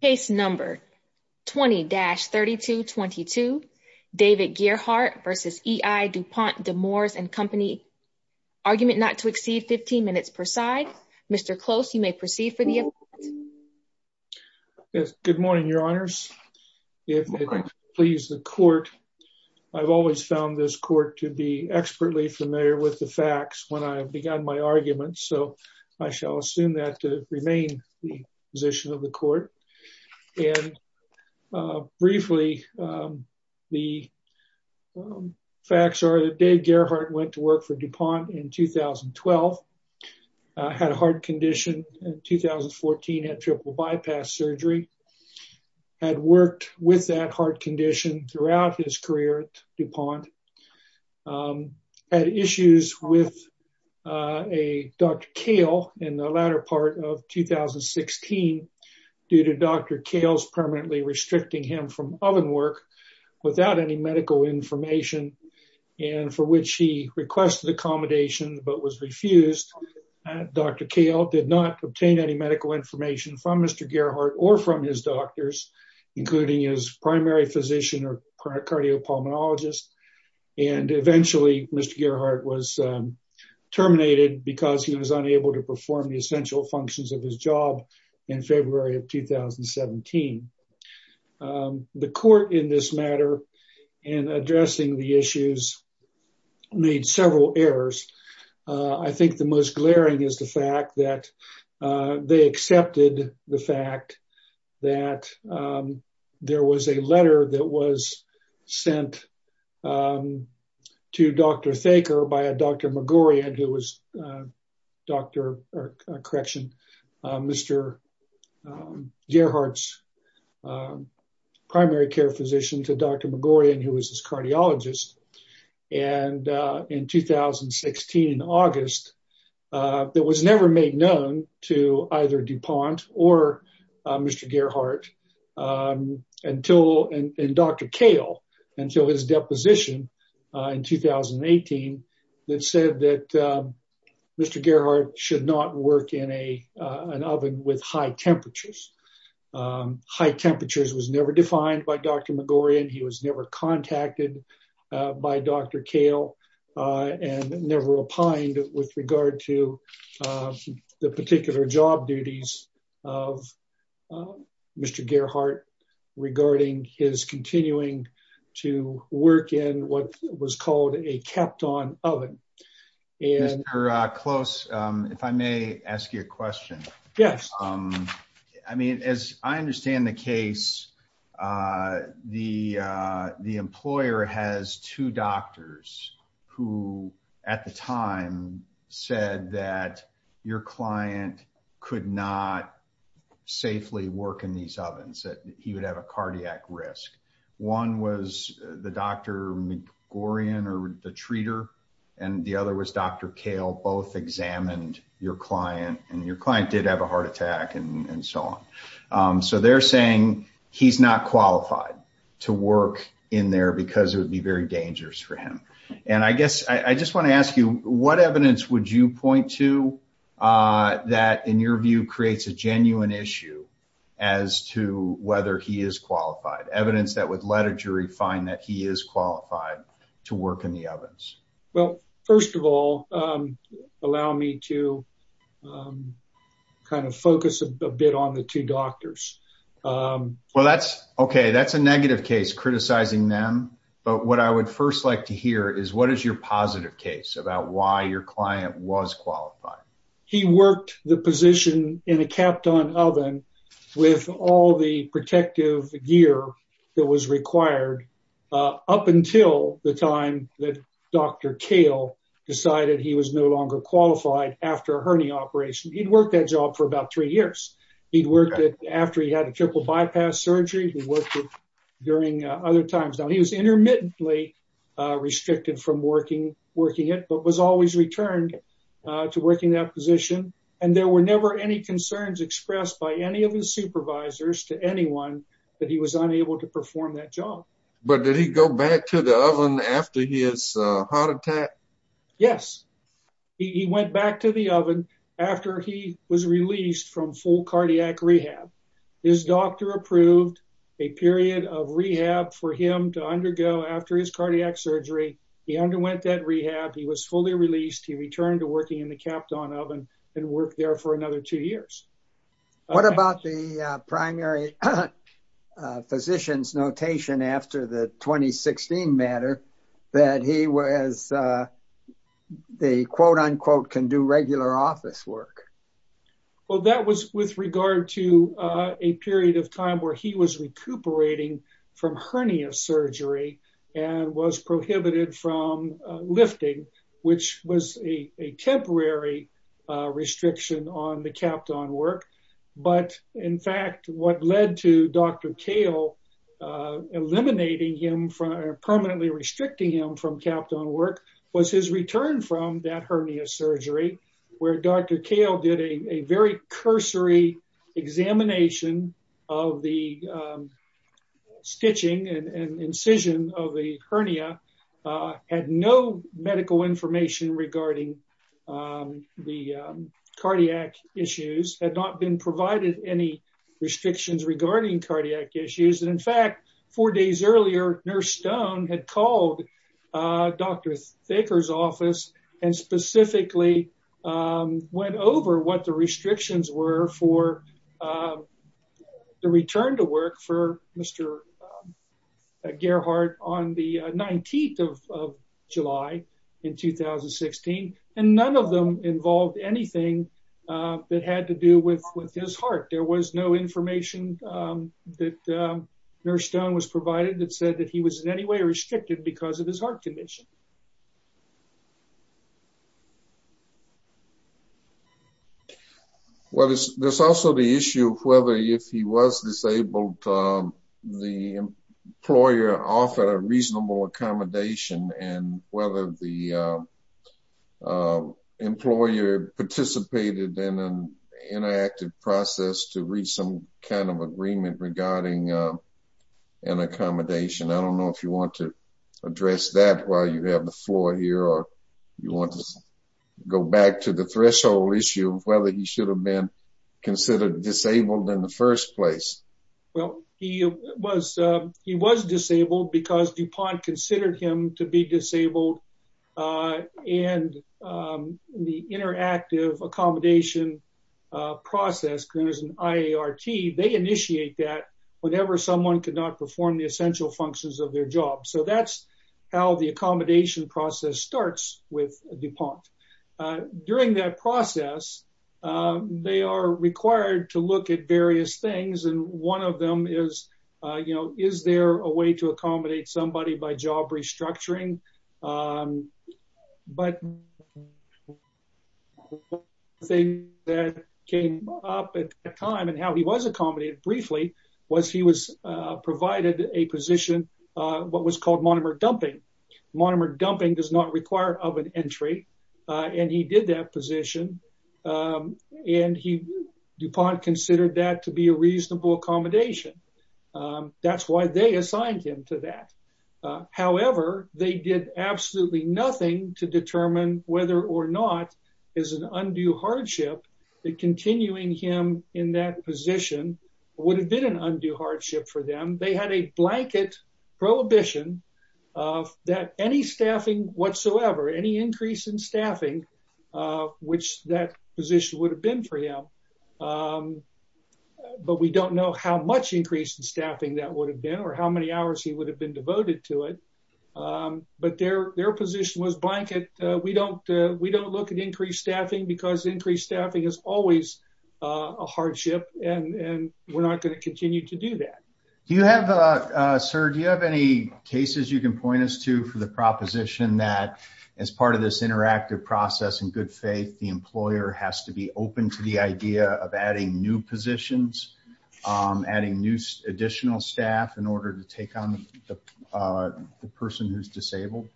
Case number 20-3222. David Gearhart v. EI Du Pont De Nemours and Co. Argument not to exceed 15 minutes per side. Mr. Close, you may proceed for the appointment. Yes, good morning, your honors. If it pleases the court, I've always found this court to be expertly familiar with the facts when I began my argument, so I shall assume that to it. Briefly, the facts are that Dave Gearhart went to work for DuPont in 2012, had a heart condition in 2014, had triple bypass surgery, had worked with that heart condition throughout his career at DuPont, had issues with Dr. Kahle in the latter part of 2016 due to Dr. Kahle's permanently restricting him from oven work without any medical information, and for which he requested accommodation but was refused. Dr. Kahle did not obtain any medical information from Mr. Gearhart or from his doctors, including his primary physician or cardiopulmonologist, and eventually, Mr. Gearhart was terminated because he was unable to perform the essential functions of his job in February of 2017. The court in this matter in addressing the issues made several errors. I think the most glaring is the fact that they accepted the fact that there was a letter that was sent to Dr. Thaker by a Dr. Magorian who was Dr., correction, Mr. Gearhart's to Dr. Magorian, who was his cardiologist, and in 2016, in August, that was never made known to either DuPont or Mr. Gearhart until, and Dr. Kahle, until his deposition in 2018, that said that Mr. Gearhart should not work in an oven with high temperatures. High temperatures was never defined by Dr. Magorian. He was never contacted by Dr. Kahle and never opined with regard to the particular job duties of Mr. Gearhart regarding his continuing to work in what was called a kept on oven. Mr. Close, if I may ask you a question. Yes. I mean, as I understand the case, the employer has two doctors who, at the time, said that your client could not safely work in these ovens, that he would have a cardiac risk. One was the Dr. Magorian or the treater, and the other was Dr. Kahle, both examined your client, and your client did have a heart attack and so on. So they're saying he's not qualified to work in there because it would be very dangerous for him. And I guess, I just want to ask you, what evidence would you point to that, in your view, creates a genuine issue as to whether he is qualified? Evidence that would let a jury find that he is qualified to work in the ovens? Well, first of all, allow me to kind of focus a bit on the two doctors. Well, that's okay. That's a negative case, criticizing them. But what I would first like to hear is what is your positive case about why your client was qualified? He worked the position in a kept on oven with all the protective gear that was required up until the time that Dr. Kahle decided he was no longer qualified after a hernia operation. He'd worked that job for about three years. He'd worked it after he had a triple bypass surgery. He worked it during other times. Now, he was intermittently restricted from working it, but was always returned to working that position. And there were never any concerns expressed by any of his supervisors to anyone that he was unable to perform that job. But did he go back to the oven after his heart attack? Yes. He went back to the oven after he was released from full cardiac rehab. His doctor approved a period of rehab for him to undergo after his cardiac surgery. He underwent that rehab. He was fully released. He returned to working in the kept on oven and worked there another two years. What about the primary physician's notation after the 2016 matter that he was the quote unquote can do regular office work? Well, that was with regard to a period of time where he was recuperating from hernia surgery and was prohibited from lifting, which was a temporary restriction on the kept on work. But in fact, what led to Dr. Kale eliminating him from permanently restricting him from kept on work was his return from that hernia surgery, where Dr. Kale did a very cursory examination of the stitching and incision of the hernia, had no medical information regarding the cardiac issues, had not been provided any restrictions regarding cardiac issues. And in fact, four days earlier, Nurse Stone had called Dr. Thaker's office and specifically went over what the restrictions were for the return to work for Mr. Gerhart on the 19th of July in 2016. And none of them involved anything that had to do with his heart. There was no information that Nurse Stone was provided that said that he was in any way restricted because of his heart condition. Well, there's also the issue of whether if he was disabled, the employer offered a reasonable accommodation and whether the employer participated in an interactive process to reach some kind of agreement regarding an accommodation. I don't know if you want to address that while you have the floor here or you want to go back to the threshold issue of whether he should have been considered disabled in the first place. Well, he was disabled because DuPont considered him to be disabled. And the interactive accommodation process, there's an IART, they initiate that whenever someone could not perform the essential functions of their job. So that's how the accommodation process starts with DuPont. During that process, they are required to look at various things. And one of them is, you know, is there a way to accommodate somebody by job restructuring? But the thing that came up at the time and how he was accommodated briefly was he was provided a position, what was called monomer dumping. Monomer dumping does not require of an entry. And he did that position. And DuPont considered that to be a reasonable accommodation. That's why they assigned him to that. However, they did absolutely nothing to determine whether or not is an undue hardship that continuing him in that position would have been an undue hardship for them. They had a blanket prohibition of that any staffing whatsoever, any increase in staffing, which that position would have been for him. But we don't know how much increase in staffing that would have been or how many hours he would have been devoted to it. But their position was blanket. We don't look at increased staffing because increased staffing is always a hardship and we're not going to continue to do that. Do you have, sir, do you have any cases you can point us to for the proposition that as part of this interactive process in good faith, the employer has to be open to the idea of adding new positions, adding new additional staff in order to take on the person who's disabled?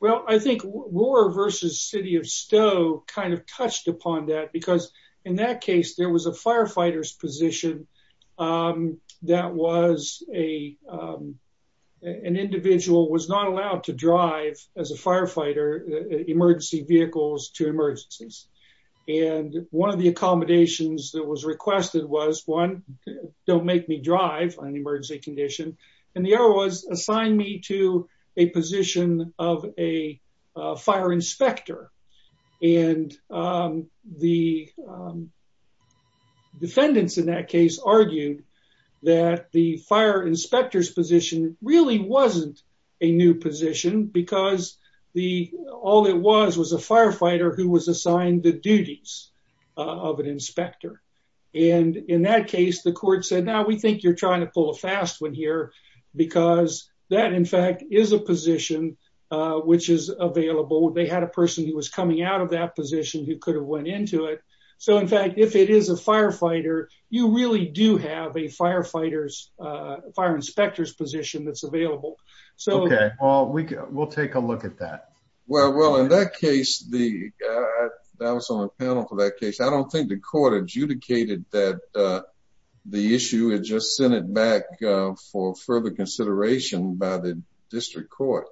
Well, I think Roar versus City of Stowe kind of touched upon that because in that case, there was a firefighter's position that was a, an individual was not allowed to drive as a firefighter, emergency vehicles to emergencies. And one of the accommodations that was requested was one, don't make me drive on an emergency condition. And the other was assign me to a position of a fire inspector. And the defendants in that case argued that the fire inspector's position really wasn't a new position because the, all it was was a firefighter who was assigned the duties of an inspector. And in that case, the court said, now we think you're trying to pull a fast one here because that in fact is a position which is available. They had a person who was coming out of that position who could have went into it. So in fact, if it is a firefighter, you really do have a firefighter's, fire inspector's position that's available. Okay, well, we'll take a look at that. Well, in that case, I was on a panel for that case. I don't think the court adjudicated that the issue. It just sent it back for further consideration by the district court.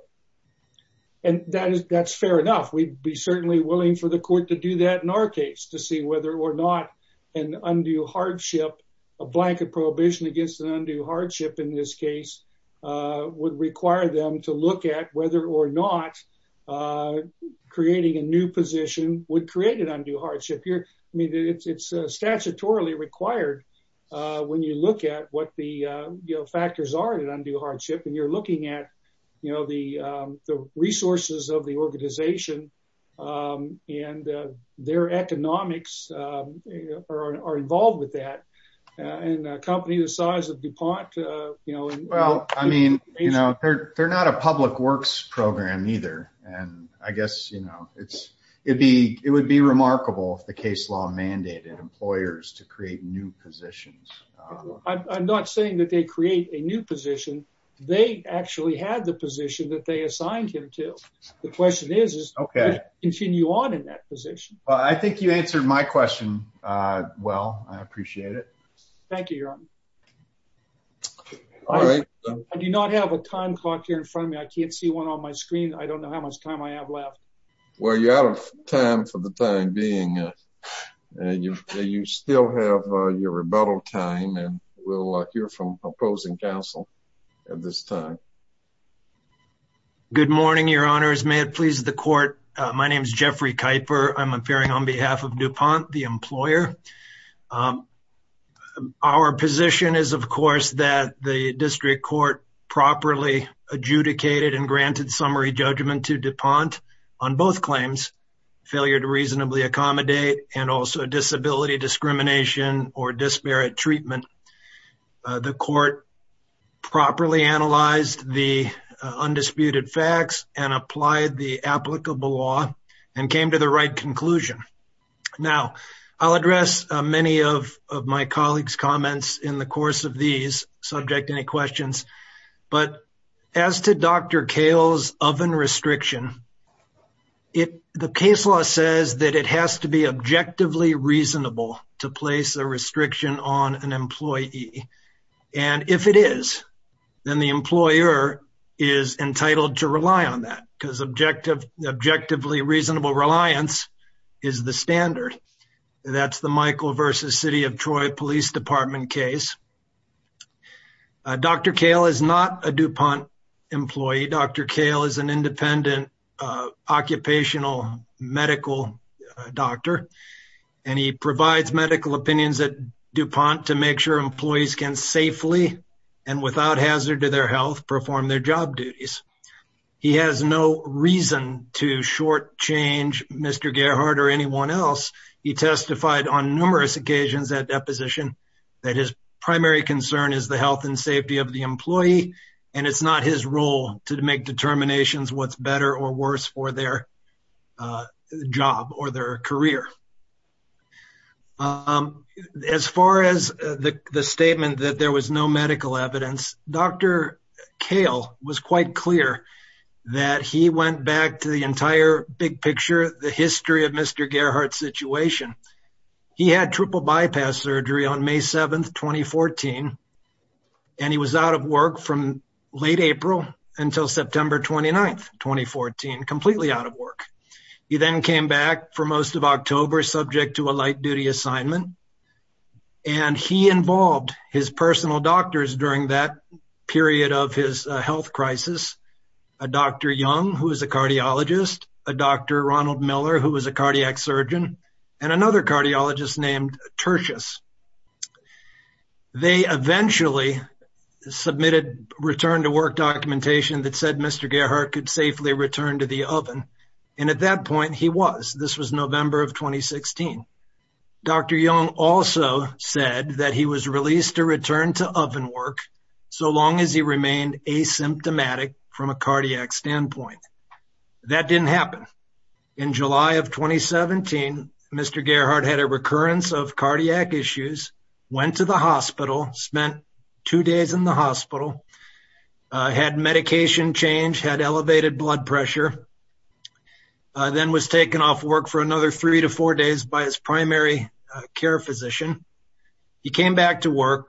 And that's fair enough. We'd be certainly willing for the court to do that in our case, to see whether or not an undue hardship, a blanket prohibition against an undue hardship in this case, would require them to look at whether or not creating a new position would create an undue hardship. I mean, it's statutorily required when you look at what the factors are in an undue hardship. I mean, I'm not saying that they create a new position. They actually had the position that they assigned him to. The question is, continue on in that position. Well, I think you answered my question. Well, I appreciate it. Thank you, Your Honor. I do not have a time clock here in front of me. I can't see one on my screen. I don't know how much time I have left. Well, you're out of time for the time being. You still have your rebuttal time and we'll hear from opposing counsel at this time. Good morning, Your Honors. May it please the court. My name is Jeffrey Kuyper. I'm appearing on behalf of DuPont, the employer. Our position is, of course, that the district court properly adjudicated and granted summary judgment to DuPont on both claims, failure to reasonably accommodate and also disability discrimination or disparate treatment. The court properly analyzed the undisputed facts and applied the applicable law and came to the right conclusion. Now, I'll address many of my colleagues' comments in the course of these subject to any questions. But as to Dr. Kahle's oven restriction, the case law says that it has to be objectively reasonable to place a restriction on an employee. And if it is, then the employer is entitled to rely on that because objectively reasonable reliance is the standard. That's the Michael versus City of Troy Police Department case. Dr. Kahle is not a DuPont employee. Dr. Kahle is an independent occupational medical doctor, and he provides medical opinions at DuPont to make sure employees can safely and without hazard to their health perform their job duties. He has no reason to shortchange Mr. Gerhardt or anyone else. He testified on numerous occasions at deposition that his primary concern is the health and safety of the employee, and it's not his role to make determinations what's better or worse for their job or their career. As far as the statement that there was no medical evidence, Dr. Kahle was quite clear that he went back to the entire big picture, the history of Mr. Gerhardt's situation. He had triple bypass surgery on May 7, 2014, and he was out of work from late April until September 29, 2014, completely out of work. He then came back for most of October, subject to a light duty assignment, and he involved his personal doctors during that period of his health crisis, a Dr. Young, who is a cardiologist, a Dr. Ronald Miller, who was a cardiac surgeon, and another cardiologist named Tertius. They eventually submitted return-to-work documentation that said Mr. Gerhardt could safely return to the oven, and at that point he was. This was November of 2016. Dr. Young also said that he was released to return to oven work so long as he remained asymptomatic from a cardiac standpoint. That didn't happen. In July of 2017, Mr. Gerhardt had a recurrence of cardiac issues, went to the hospital, spent two days in the hospital, had medication change, had elevated blood pressure, then was taken off work for another three to four days by his primary care physician. He came back to work,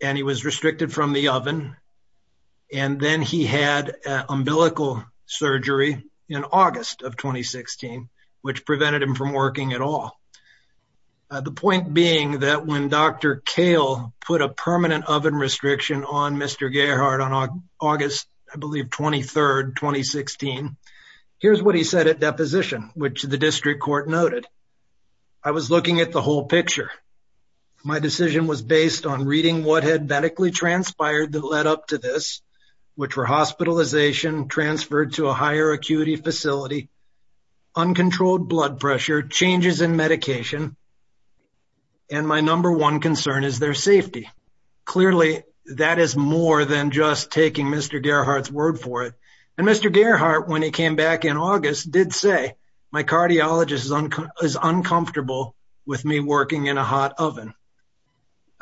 and he was then he had umbilical surgery in August of 2016, which prevented him from working at all. The point being that when Dr. Kale put a permanent oven restriction on Mr. Gerhardt on August, I believe, 23rd, 2016, here's what he said at deposition, which the district court noted. I was looking at the whole picture. My decision was based on reading what had medically transpired that led up to this, which were hospitalization, transferred to a higher acuity facility, uncontrolled blood pressure, changes in medication, and my number one concern is their safety. Clearly, that is more than just taking Mr. Gerhardt's word for it. Mr. Gerhardt, when he came back in August, did say, my cardiologist is uncomfortable with me working in a hot oven.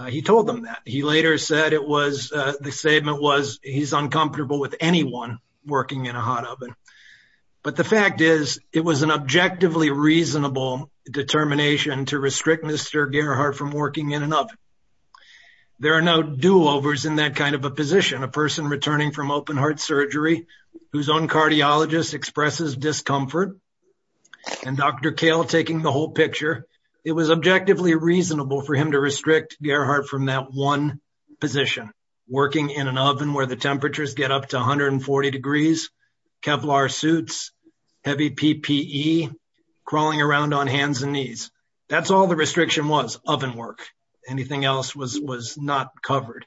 He told them that. He later said it was, the statement was, he's uncomfortable with anyone working in a hot oven. But the fact is, it was an objectively reasonable determination to restrict Mr. Gerhardt from working in an oven. There are no do-overs in that kind of a position, a person returning from open heart surgery, whose own cardiologist expresses discomfort, and Dr. Kahle taking the whole picture. It was objectively reasonable for him to restrict Gerhardt from that one position, working in an oven where the temperatures get up to 140 degrees, Kevlar suits, heavy PPE, crawling around on hands and knees. That's all the restriction was, oven work. Anything else was not covered.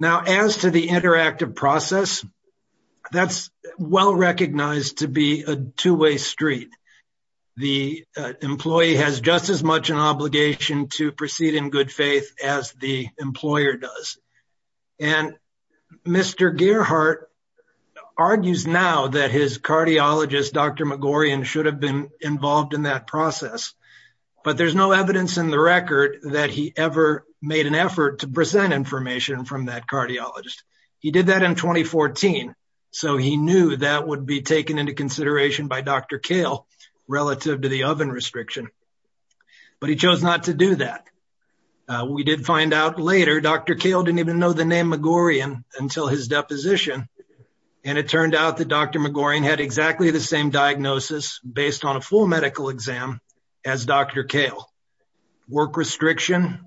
Now, as to the interactive process, that's well-recognized to be a two-way street. The employee has just as much an obligation to proceed in good faith as the employer does. And Mr. Gerhardt argues now that his cardiologist, Dr. Magorian, should have been involved in that process. But there's no evidence in the record that he ever made an effort to present information from that cardiologist. He did that in 2014. So he knew that would be taken into consideration by Dr. Kahle relative to the oven restriction. But he chose not to do that. We did find out later Dr. Kahle didn't even know the name Magorian until his deposition. And it turned out that Dr. Magorian had exactly the same diagnosis based on a full medical exam as Dr. Kahle. Work restriction,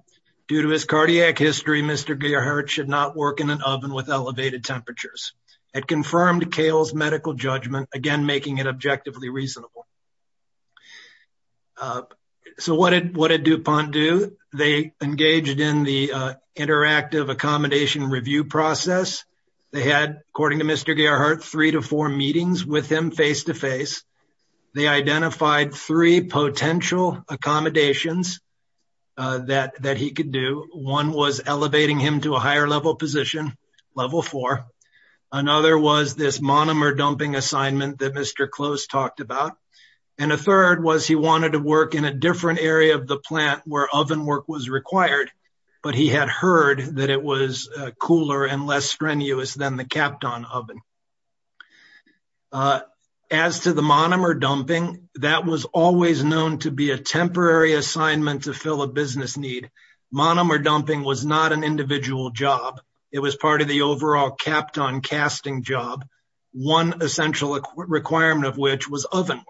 due to his cardiac history, Mr. Gerhardt should not work in an oven with elevated temperatures. It confirmed Kahle's medical judgment, again, making it objectively reasonable. So what did DuPont do? They engaged in the interactive accommodation review process. They had, according to Mr. Gerhardt, three to four meetings with him face-to-face. They identified three potential accommodations that he could do. One was elevating him to a higher level position, level four. Another was this monomer dumping assignment that Mr. Close talked about. And a third was he wanted to work in a different area of the plant where oven work was required, but he had heard that it was cooler and less strenuous than the Kapton oven. As to the monomer dumping, that was always known to be a temporary assignment to fill a business need. Monomer dumping was not an individual job. It was part of the overall Kapton casting job, one essential requirement of which was oven work.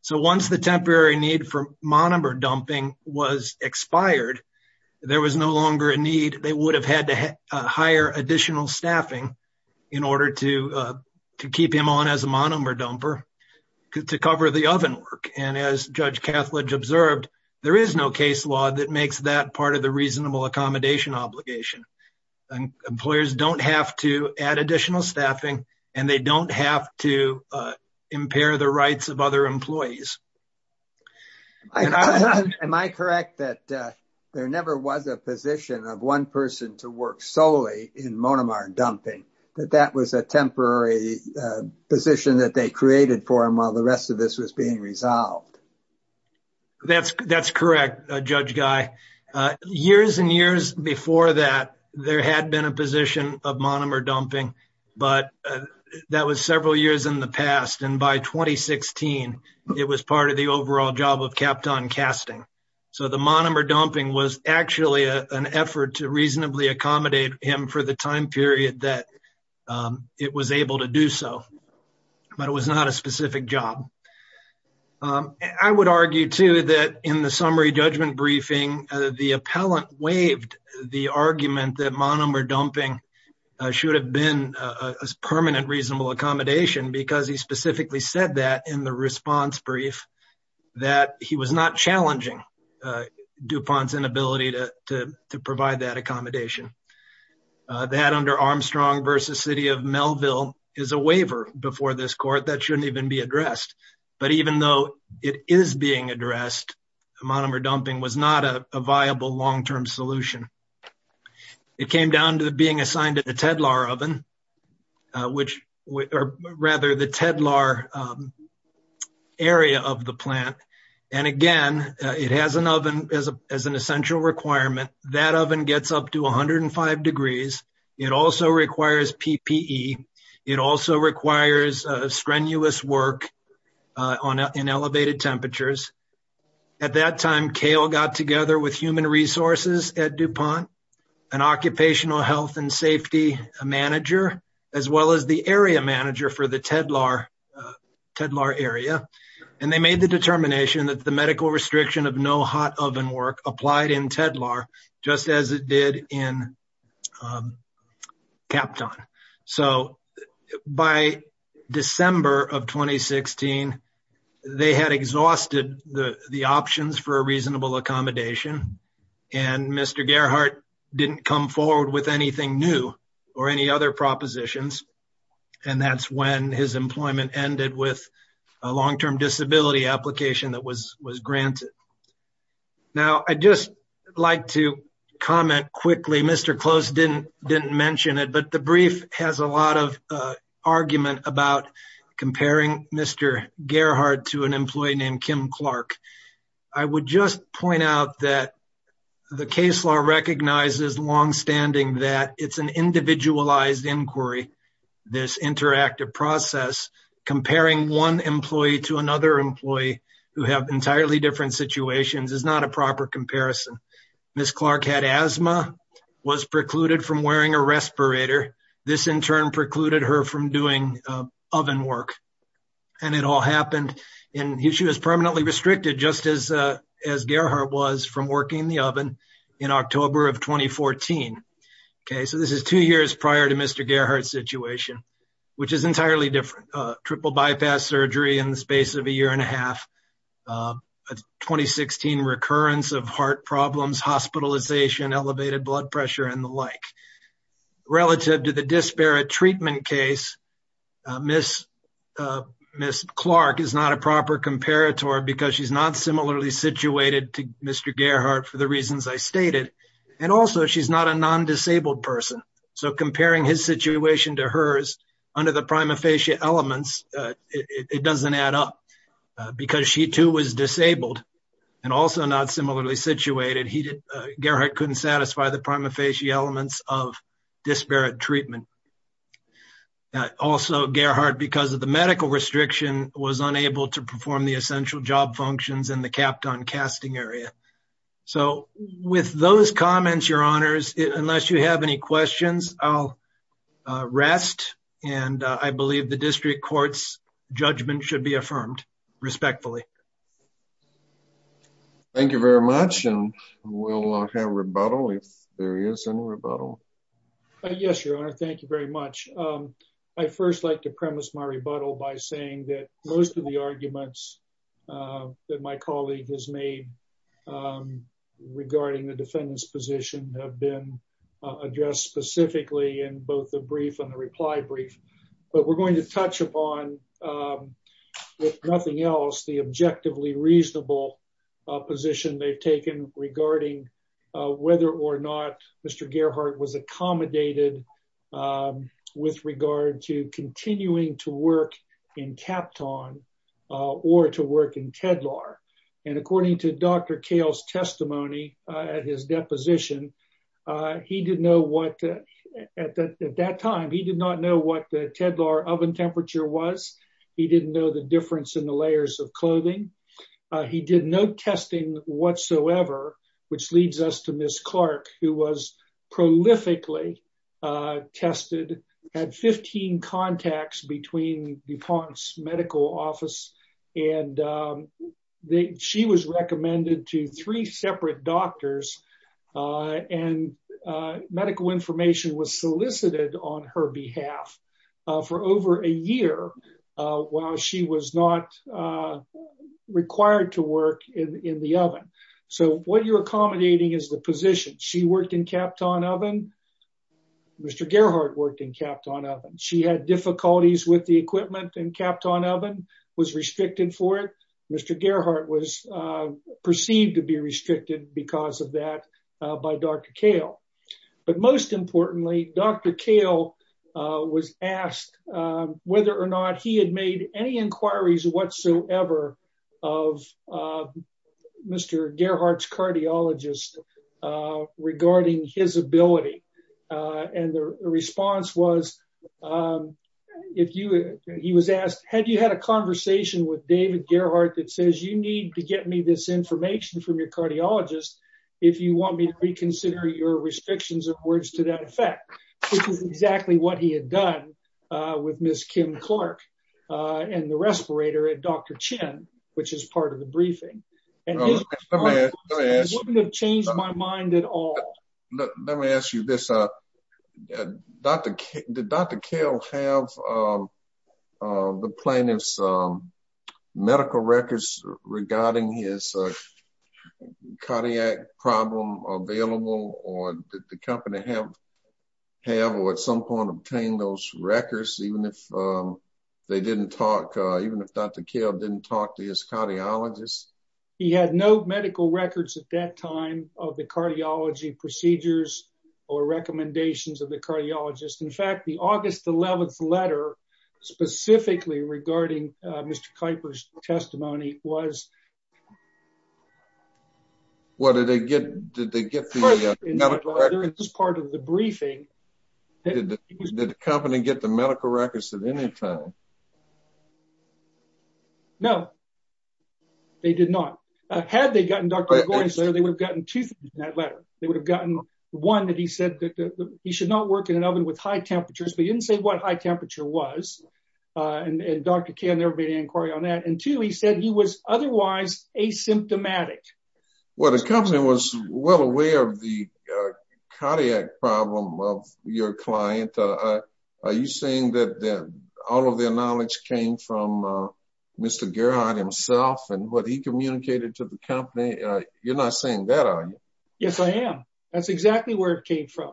So once the temporary need for monomer dumping was expired, there was no longer a need. They would have had to hire additional staffing in order to keep him on as a monomer dumper to cover the oven work. And as Judge Cathledge observed, there is no case law that makes that part of the reasonable accommodation obligation. Employers don't have to add additional staffing and they don't have to impair the rights of other employees. Am I correct that there never was a position of one person to work solely in monomer dumping, that that was a temporary position that they created for him while the rest of this was being resolved? That's correct, Judge Guy. Years and years before that, there had been a position of monomer dumping, but that was several years in the past. And by 2016, it was part of the overall job of Kapton casting. So the monomer dumping was actually an effort to reasonably accommodate him for the time period that it was able to do so, but it was not a specific job. I would argue too that in the summary judgment briefing, the appellant waived the argument that monomer dumping should have been a permanent reasonable accommodation because he specifically said that in the response brief, that he was not challenging DuPont's inability to provide that under Armstrong versus city of Melville is a waiver before this court that shouldn't even be addressed. But even though it is being addressed, monomer dumping was not a viable long-term solution. It came down to the being assigned to the Tedlar oven, which rather the Tedlar area of the plant. And again, it has an oven as an essential requirement. That oven gets up to 105 degrees. It also requires PPE. It also requires a strenuous work in elevated temperatures. At that time, Cale got together with human resources at DuPont, an occupational health and safety manager, as well as the area manager for the Tedlar area. And they made the determination that the medical restriction of no hot oven work applied in Tedlar, just as it did in Kapton. So by December of 2016, they had exhausted the options for a reasonable accommodation. And Mr. Gerhart didn't come forward with anything new or any other propositions. And that's when his employment ended with a long-term disability application that was granted. Now, I'd just like to comment quickly. Mr. Close didn't mention it, but the brief has a lot of argument about comparing Mr. Gerhart to an employee named Kim Clark. I would just point out that the case law recognizes longstanding that it's an individualized inquiry, this interactive process. Comparing one employee to another employee who have entirely different situations is not a proper comparison. Ms. Clark had asthma, was precluded from wearing a respirator. This in turn precluded her from doing oven work. And it all happened and she was permanently restricted just as Gerhart was from working the oven in October of 2014. Okay, so this is two years prior to Mr. Gerhart's situation, which is entirely different. Triple bypass surgery in the space of a year and a half, 2016 recurrence of heart problems, hospitalization, elevated blood pressure and the like. Relative to the disparate treatment case, Ms. Clark is not a proper comparator because she's not similarly situated to Mr. Gerhart for the reasons I stated. And also, she's not a non-disabled person. So comparing his situation to hers under the prima facie elements, it doesn't add up. Because she too was disabled and also not similarly situated, Gerhart couldn't satisfy the prima facie elements of disparate treatment. Also, Gerhart, because of the medical restriction, was unable to perform the essential job functions in the Kapton casting area. So with those comments, your honors, unless you have any questions, I'll rest. And I believe the district court's judgment should be affirmed respectfully. Thank you very much. And we'll have rebuttal if there is any rebuttal. Yes, your honor. Thank you very much. I first like to premise my rebuttal by saying that most of the arguments that my colleague has made regarding the defendant's position have been addressed specifically in both the brief and the reply brief. But we're going to touch upon, if nothing else, the objectively reasonable position they've taken regarding whether or not Gerhart was accommodated with regard to continuing to work in Kapton or to work in Tedlar. And according to Dr. Cale's testimony at his deposition, at that time, he did not know what the Tedlar oven temperature was. He didn't know the difference in the layers of clothing. He did no testing whatsoever, which leads us to Ms. Clark, who was prolifically tested at 15 contacts between DuPont's medical office. And she was recommended to three separate doctors. And medical information was solicited on her behalf for over a year while she was not required to work in the oven. So what you're accommodating is the position. She worked in Kapton oven. Mr. Gerhart worked in Kapton oven. She had difficulties with the equipment in Kapton oven, was restricted for it. Mr. Gerhart was perceived to be restricted because of that by Dr. Cale. But most importantly, Dr. Cale was asked whether or not he had made any of Mr. Gerhart's cardiologists regarding his ability. And the response was, he was asked, had you had a conversation with David Gerhart that says you need to get me this information from your cardiologist if you want me to reconsider your restrictions of words to that effect, which is exactly what he had done with Ms. Kim Clark and the respirator at Dr. Chin, which is part of the briefing. And he wouldn't have changed my mind at all. Let me ask you this. Did Dr. Cale have the plaintiff's medical records regarding his cardiac problem available or did the company have or at some point obtained those records, even if they didn't talk, even if Dr. Cale didn't talk to his cardiologist? He had no medical records at that time of the cardiology procedures or recommendations of the cardiologist. In fact, the August 11th letter specifically regarding Mr. Kuyper's testimony was. What did they get? Did they get the medical records? As part of the briefing. Did the company get the medical records at any time? No, they did not. Had they gotten Dr. Kuyper's letter, they would have gotten two things in that letter. They would have gotten one that he said that he should not work in an oven with high temperatures, but he didn't say what high temperature was. And Dr. Cale never made an inquiry on that. And two, he said he was otherwise asymptomatic. Well, the company was well aware of the cardiac problem of your client. Are you saying that all of their knowledge came from Mr. Gerhart himself and what he communicated to the company? You're not saying that, are you? Yes, I am. That's exactly where it came from.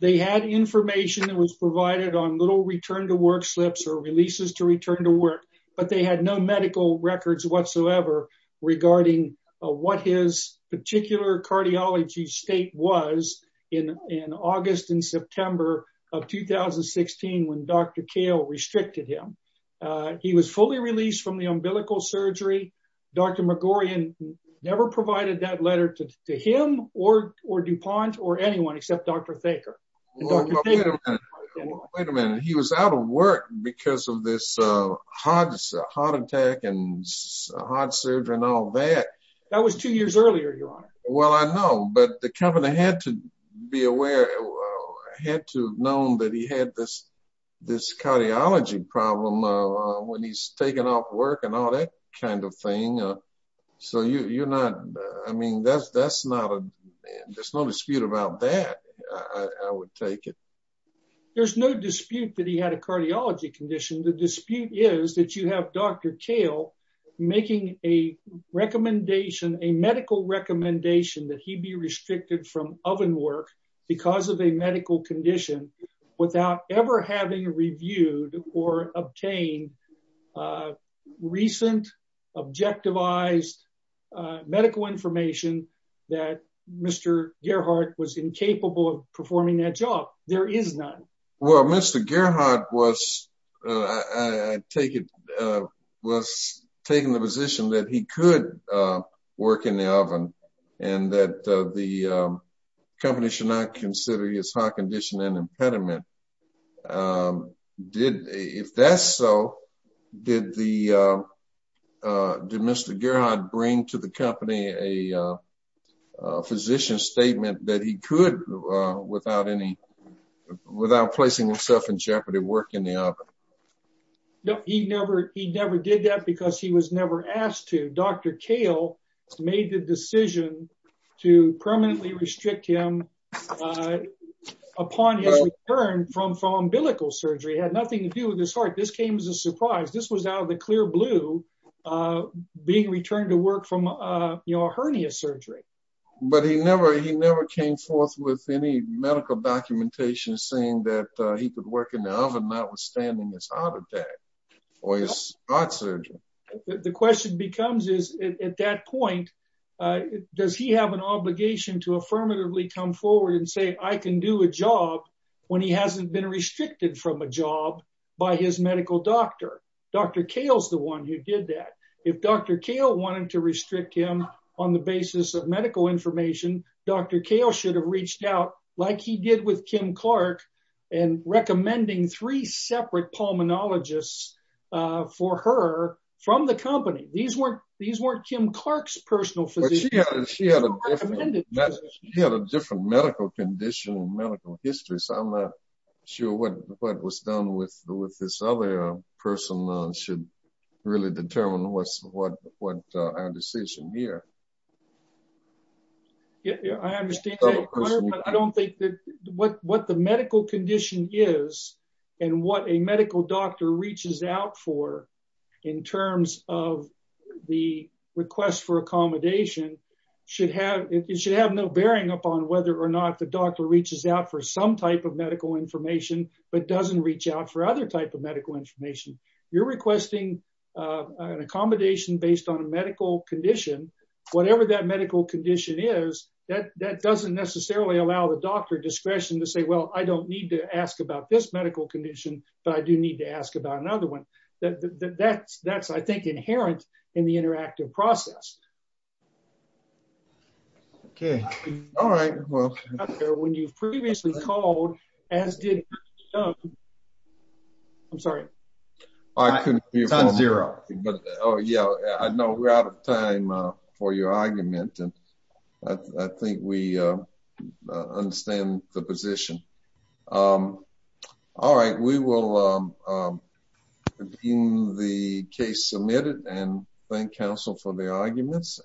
They had information that was provided on little return to work slips or releases to return to work, but they had no medical records whatsoever regarding what his particular cardiology state was in August and September of 2016 when Dr. Cale restricted him. He was fully released from the umbilical surgery. Dr. McGorian never provided that letter to him or DuPont or anyone except Dr. Thaker. Wait a minute. He was out of work because of this heart attack and heart surgery and all that. That was two years earlier, Your Honor. Well, I know, but the company had to be aware, had to have known that he had this cardiology problem when he's taken off work and all that kind of thing. So you're not, I mean, there's no dispute about that, I would take it. There's no dispute that he had a cardiology condition. The dispute is that you have Dr. Cale making a recommendation, a medical recommendation that he be restricted from oven work because of a medical condition without ever having reviewed or obtained recent objectivized medical information that Mr. Gerhardt was incapable of performing that job. There is none. Well, Mr. Gerhardt was, I take it, was taking the position that he could work in the oven and that the company should not consider his heart condition an impediment. If that's so, did Mr. Gerhardt bring to the company a physician's statement that he could, without placing himself in jeopardy, work in the oven? No, he never did that because he was never asked to. Dr. Cale made the decision to permanently restrict him upon his return from umbilical surgery. It had nothing to do with his heart. This came as a surprise. This was out of the clear blue, being returned to work from a hernia surgery. But he never, he never came forth with any medical documentation saying that he could work in the oven notwithstanding his heart attack or his heart surgery. The question becomes is, at that point, does he have an obligation to affirmatively come forward and say, I can do a job when he hasn't been restricted from a job by his medical doctor? Dr. Cale's the one who did that. If Dr. Cale wanted to restrict him on the basis of medical information, Dr. Cale should have reached out like he did with Kim Clark and recommending three separate pulmonologists for her from the company. These weren't Kim Clark's personal physicians. He had a different medical condition and medical history, so I'm not sure what was done with this other person should really determine what our decision here. I understand. I don't think that what the medical condition is and what a medical doctor reaches out for in terms of the request for accommodation should have, it should have no bearing upon whether or not the doctor reaches out for some type of medical information but doesn't reach out for other type of medical information. You're requesting an accommodation based on a medical condition. Whatever that medical condition is, that doesn't necessarily allow the doctor discretion to say, well, I don't need to ask about this medical condition, but I do need to ask about another one. That's, I think, inherent in the interactive process. Okay. All right. When you've previously called, as did, I'm sorry. I couldn't hear you. Oh, yeah. I know we're out of time for your argument and I think we understand the position. All right. We will review the case submitted and thank counsel for the arguments.